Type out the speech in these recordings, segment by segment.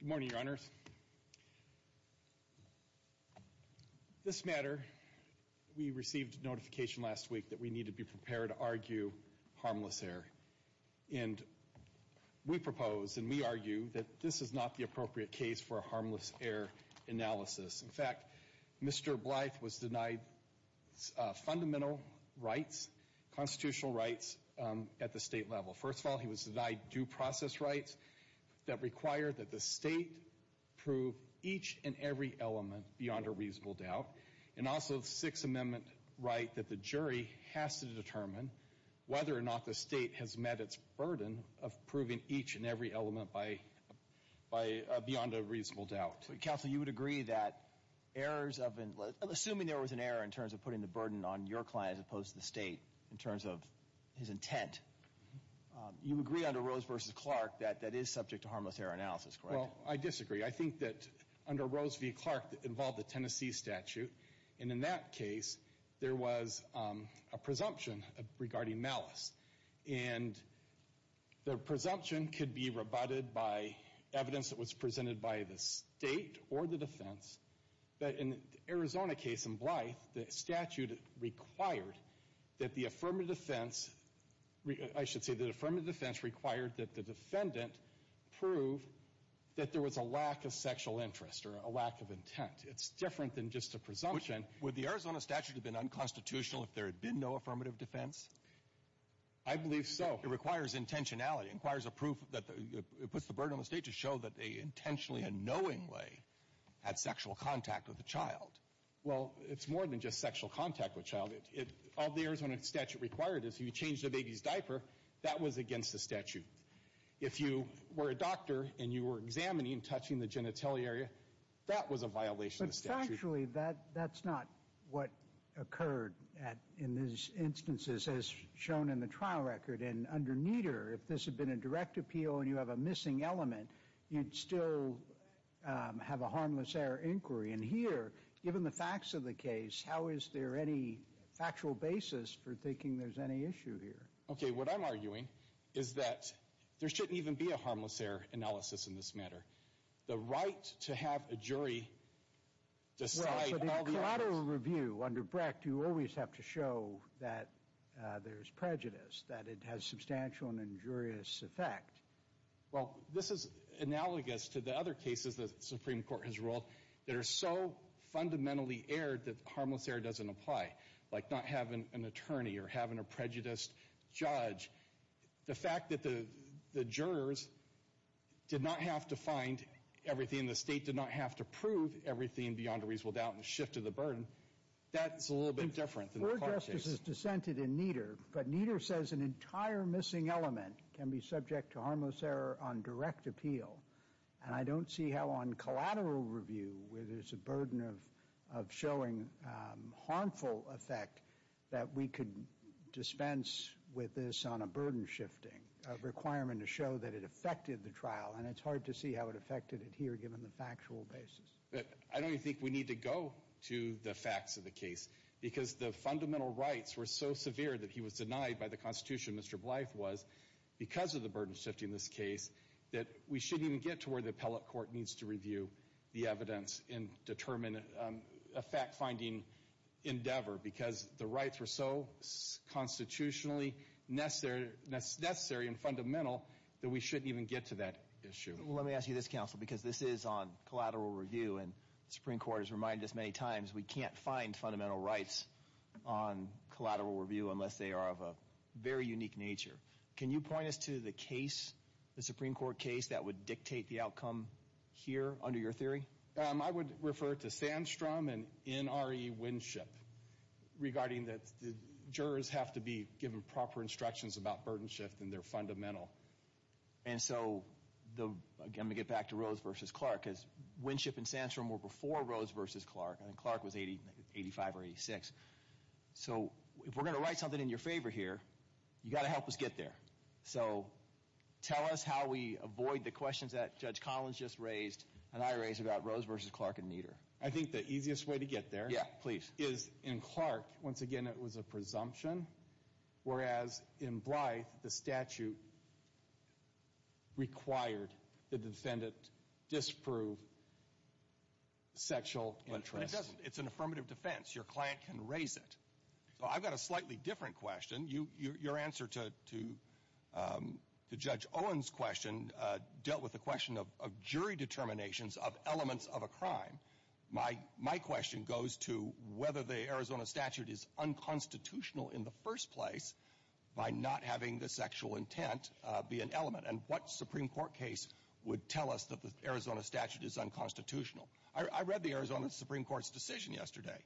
Good morning, your honors. This matter, we received notification last week that we need to be prepared to argue harmless error. And we propose and we argue that this is not the appropriate case for a harmless error analysis. In fact, Mr. Blythe was denied fundamental rights, constitutional rights at the state level. First of all, he was denied due process rights that require that the state prove each and every element beyond a reasonable doubt. And also the Sixth Amendment right that the jury has to determine whether or not the state has met its burden of proving each and every element beyond a reasonable doubt. Counsel, you would agree that errors of, assuming there was an error in terms of putting the You agree under Rose v. Clark that that is subject to harmless error analysis, correct? Well, I disagree. I think that under Rose v. Clark that involved the Tennessee statute. And in that case, there was a presumption regarding malice. And the presumption could be rebutted by evidence that was presented by the state or the defense. But in the Arizona case in Blythe, the statute required that the affirmative defense, I should say the affirmative defense required that the defendant prove that there was a lack of sexual interest or a lack of intent. It's different than just a presumption. Would the Arizona statute have been unconstitutional if there had been no affirmative defense? I believe so. It requires intentionality. It requires a proof that puts the burden on the state to show that they intentionally in a knowing way had sexual contact with the child. Well, it's more than just sexual contact with the child. All the Arizona statute required is you change the baby's diaper. That was against the statute. If you were a doctor and you were examining and touching the genitalia, that was a violation of the statute. But factually, that's not what occurred in these instances as shown in the trial record. And under Nieder, if this had been a direct appeal and you have a missing element, you'd still have a harmless error inquiry. And here, given the facts of the case, how is there any factual basis for thinking there's any issue here? Okay, what I'm arguing is that there shouldn't even be a harmless error analysis in this matter. The right to have a jury decide all the evidence. Well, for the collateral review under Brecht, you always have to show that there's prejudice, that it has substantial and injurious effect. Well, this is analogous to the other cases the Supreme Court has ruled that are so fundamentally aired that harmless error doesn't apply, like not having an attorney or having a prejudiced judge. The fact that the jurors did not have to find everything, the state did not have to prove everything beyond a reasonable doubt and shifted the burden, that's a little bit different than the court case. This is dissented in Nieder, but Nieder says an entire missing element can be subject to harmless error on direct appeal. And I don't see how on collateral review, where there's a burden of showing harmful effect that we could dispense with this on a burden shifting, a requirement to show that it affected the trial, and it's hard to see how it affected it here given the factual basis. I don't even think we need to go to the facts of the case, because the fundamental rights were so severe that he was denied by the Constitution, Mr. Blythe was, because of the burden shifting this case, that we shouldn't even get to where the appellate court needs to review the evidence and determine a fact-finding endeavor, because the rights were so constitutionally necessary and fundamental that we shouldn't even get to that issue. Let me ask you this, counsel, because this is on collateral review, and the Supreme Court has reminded us many times, we can't find fundamental rights on collateral review unless they are of a very unique nature. Can you point us to the case, the Supreme Court case, that would dictate the outcome here under your theory? I would refer to Sandstrom and NRE Winship, regarding that the jurors have to be given proper instructions about burden shift, and they're fundamental. And so, again, I'm going to get back to Rose versus Clark, because Winship and Sandstrom were before Rose versus Clark, and Clark was 85 or 86. So if we're going to write something in your favor here, you've got to help us get there. So tell us how we avoid the questions that Judge Collins just raised and I raised about Rose versus Clark and Nieder. I think the easiest way to get there is, in Clark, once again, it was a presumption, whereas in Blythe, the statute required that the defendant disprove sexual interest. But it doesn't. It's an affirmative defense. Your client can raise it. So I've got a slightly different question. Your answer to Judge Owen's question dealt with the question of jury determinations of elements of a crime. My question goes to whether the Arizona statute is unconstitutional in the first place by not having the sexual intent be an element. And what Supreme Court case would tell us that the Arizona statute is unconstitutional? I read the Arizona Supreme Court's decision yesterday,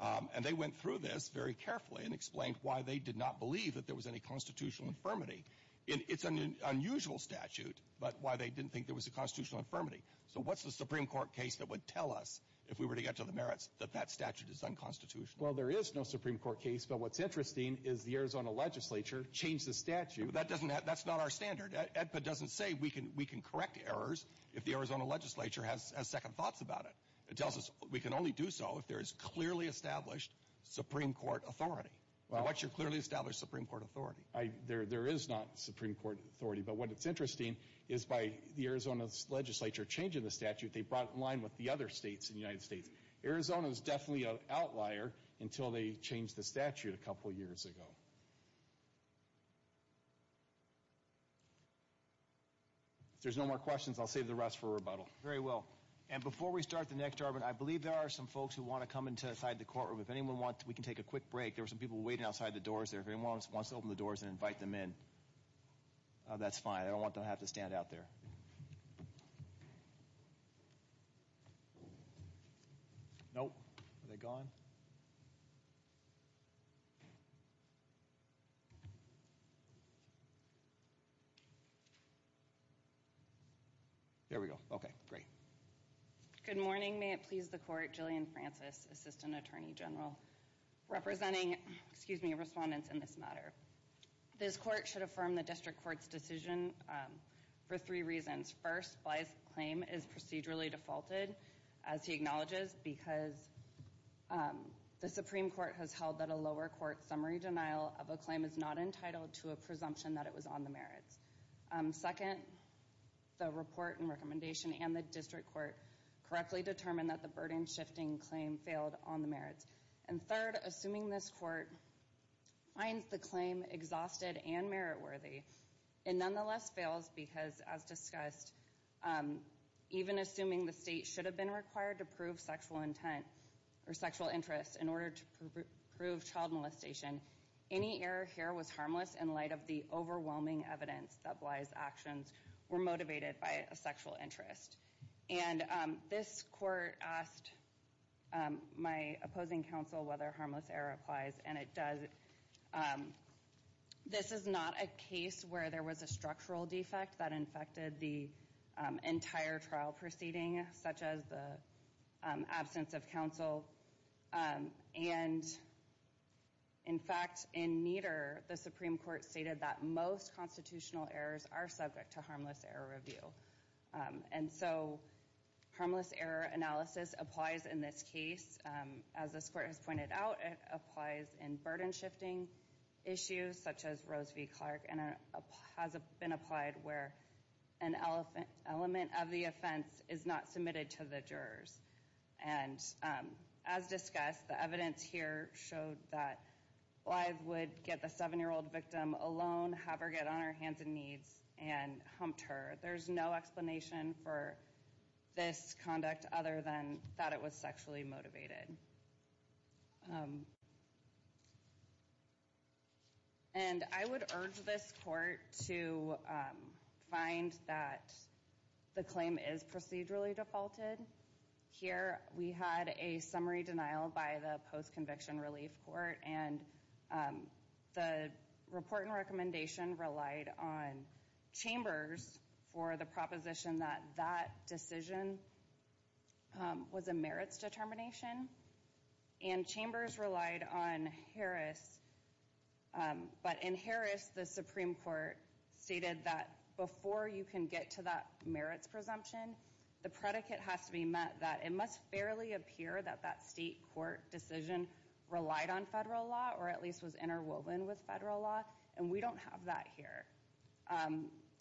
and they went through this very carefully and explained why they did not believe that there was any constitutional infirmity. It's an unusual statute, but why they didn't think there was a constitutional infirmity. So what's the Supreme Court case that would tell us, if we were to get to the merits, that that statute is unconstitutional? Well, there is no Supreme Court case, but what's interesting is the Arizona legislature changed the statute. That's not our standard. EDPA doesn't say we can correct errors if the Arizona legislature has second thoughts about it. It tells us we can only do so if there is clearly established Supreme Court authority. And what's your clearly established Supreme Court authority? There is not Supreme Court authority, but what's interesting is by the Arizona legislature changing the statute, they brought it in line with the other states in the United States. Arizona is definitely an outlier until they changed the statute a couple years ago. If there's no more questions, I'll save the rest for rebuttal. Very well. And before we start the next argument, I believe there are some folks who want to come inside the courtroom. If anyone wants, we can take a quick break. There are some people waiting outside the doors there. If anyone wants to open the doors and invite them in, that's fine. I don't want them to have to stand out there. Nope. Are they gone? There we go. Okay. Great. Good morning. May it please the Court. Jillian Francis, Assistant Attorney General, representing, excuse me, respondents in this matter. This court should affirm the district court's decision for three reasons. First, Bly's claim is procedurally defaulted, as he acknowledges, because the Supreme Court has held that a lower court summary denial of a claim is not entitled to a presumption that it was on the merits. Second, the report and recommendation and the district court correctly determined that the burden-shifting claim failed on the merits. And third, assuming this court finds the claim exhausted and merit-worthy, it nonetheless fails because, as discussed, even assuming the state should have been required to prove sexual intent or sexual interest in order to prove child molestation, any error here was harmless in light of the overwhelming evidence that Bly's actions were motivated by a sexual interest. And this court asked my opposing counsel whether harmless error applies, and it does. This is not a case where there was a structural defect that infected the entire trial proceeding, such as the absence of counsel. And, in fact, in Nieder, the Supreme Court stated that most constitutional errors are subject to harmless error review. And so harmless error analysis applies in this case. As this court has pointed out, it applies in burden-shifting issues, such as Rose v. Clark, and it has been applied where an element of the offense is not submitted to the jurors. And, as discussed, the evidence here showed that Bly would get the 7-year-old victim alone, have her get on her hands and knees, and humped her. There's no explanation for this conduct other than that it was sexually motivated. And I would urge this court to find that the claim is procedurally defaulted. Here, we had a summary denial by the post-conviction relief court, and the report and recommendation relied on chambers for the proposition that that decision was a merits determination. And chambers relied on Harris, but in Harris, the Supreme Court stated that before you can get to that merits presumption, the predicate has to be met that it must fairly appear that that state court decision relied on federal law, or at least was interwoven with federal law. And we don't have that here.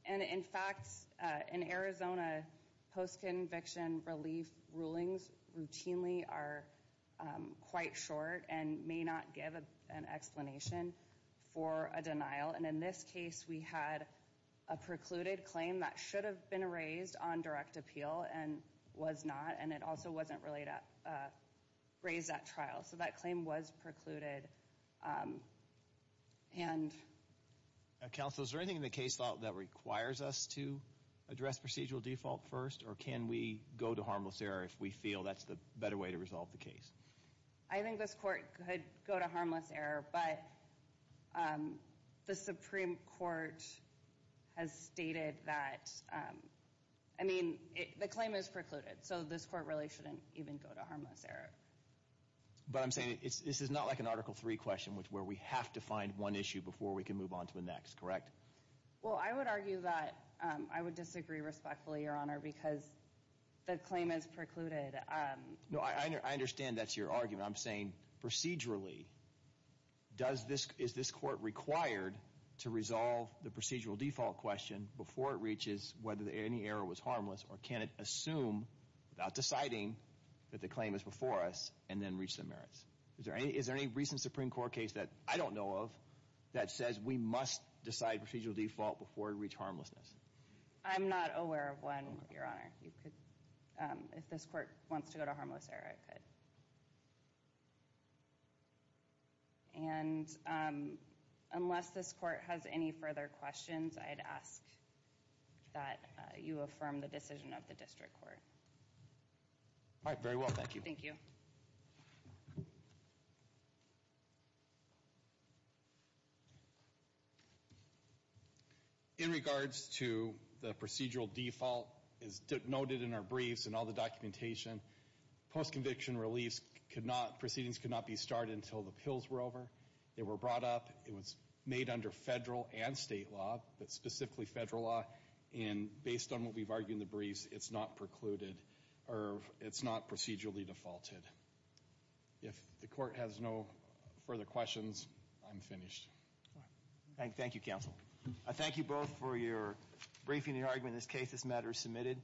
And, in fact, in Arizona, post-conviction relief rulings routinely are quite short and may not give an explanation for a denial. And in this case, we had a precluded claim that should have been raised on direct appeal and was not, and it also wasn't raised at trial. So that claim was precluded. Counsel, is there anything in the case law that requires us to address procedural default first, or can we go to harmless error if we feel that's the better way to resolve the case? I think this court could go to harmless error, but the Supreme Court has stated that, I mean, the claim is precluded, so this court really shouldn't even go to harmless error. But I'm saying this is not like an Article III question where we have to find one issue before we can move on to the next, correct? Well, I would argue that I would disagree respectfully, Your Honor, because the claim is precluded. No, I understand that's your argument. I'm saying procedurally, is this court required to resolve the procedural default question before it reaches whether any error was harmless, or can it assume without deciding that the claim is before us and then reach the merits? Is there any recent Supreme Court case that I don't know of that says we must decide procedural default before we reach harmlessness? I'm not aware of one, Your Honor. If this court wants to go to harmless error, it could. And unless this court has any further questions, I'd ask that you affirm the decision of the district court. All right, very well, thank you. Thank you. In regards to the procedural default, as noted in our briefs and all the documentation, post-conviction reliefs could not, proceedings could not be started until the pills were over. They were brought up. It was made under federal and state law, but specifically federal law. And based on what we've argued in the briefs, it's not precluded, or it's not procedurally defaulted. If the court has no further questions, I'm finished. Thank you, counsel. I thank you both for your briefing and your argument in this case. This matter is submitted.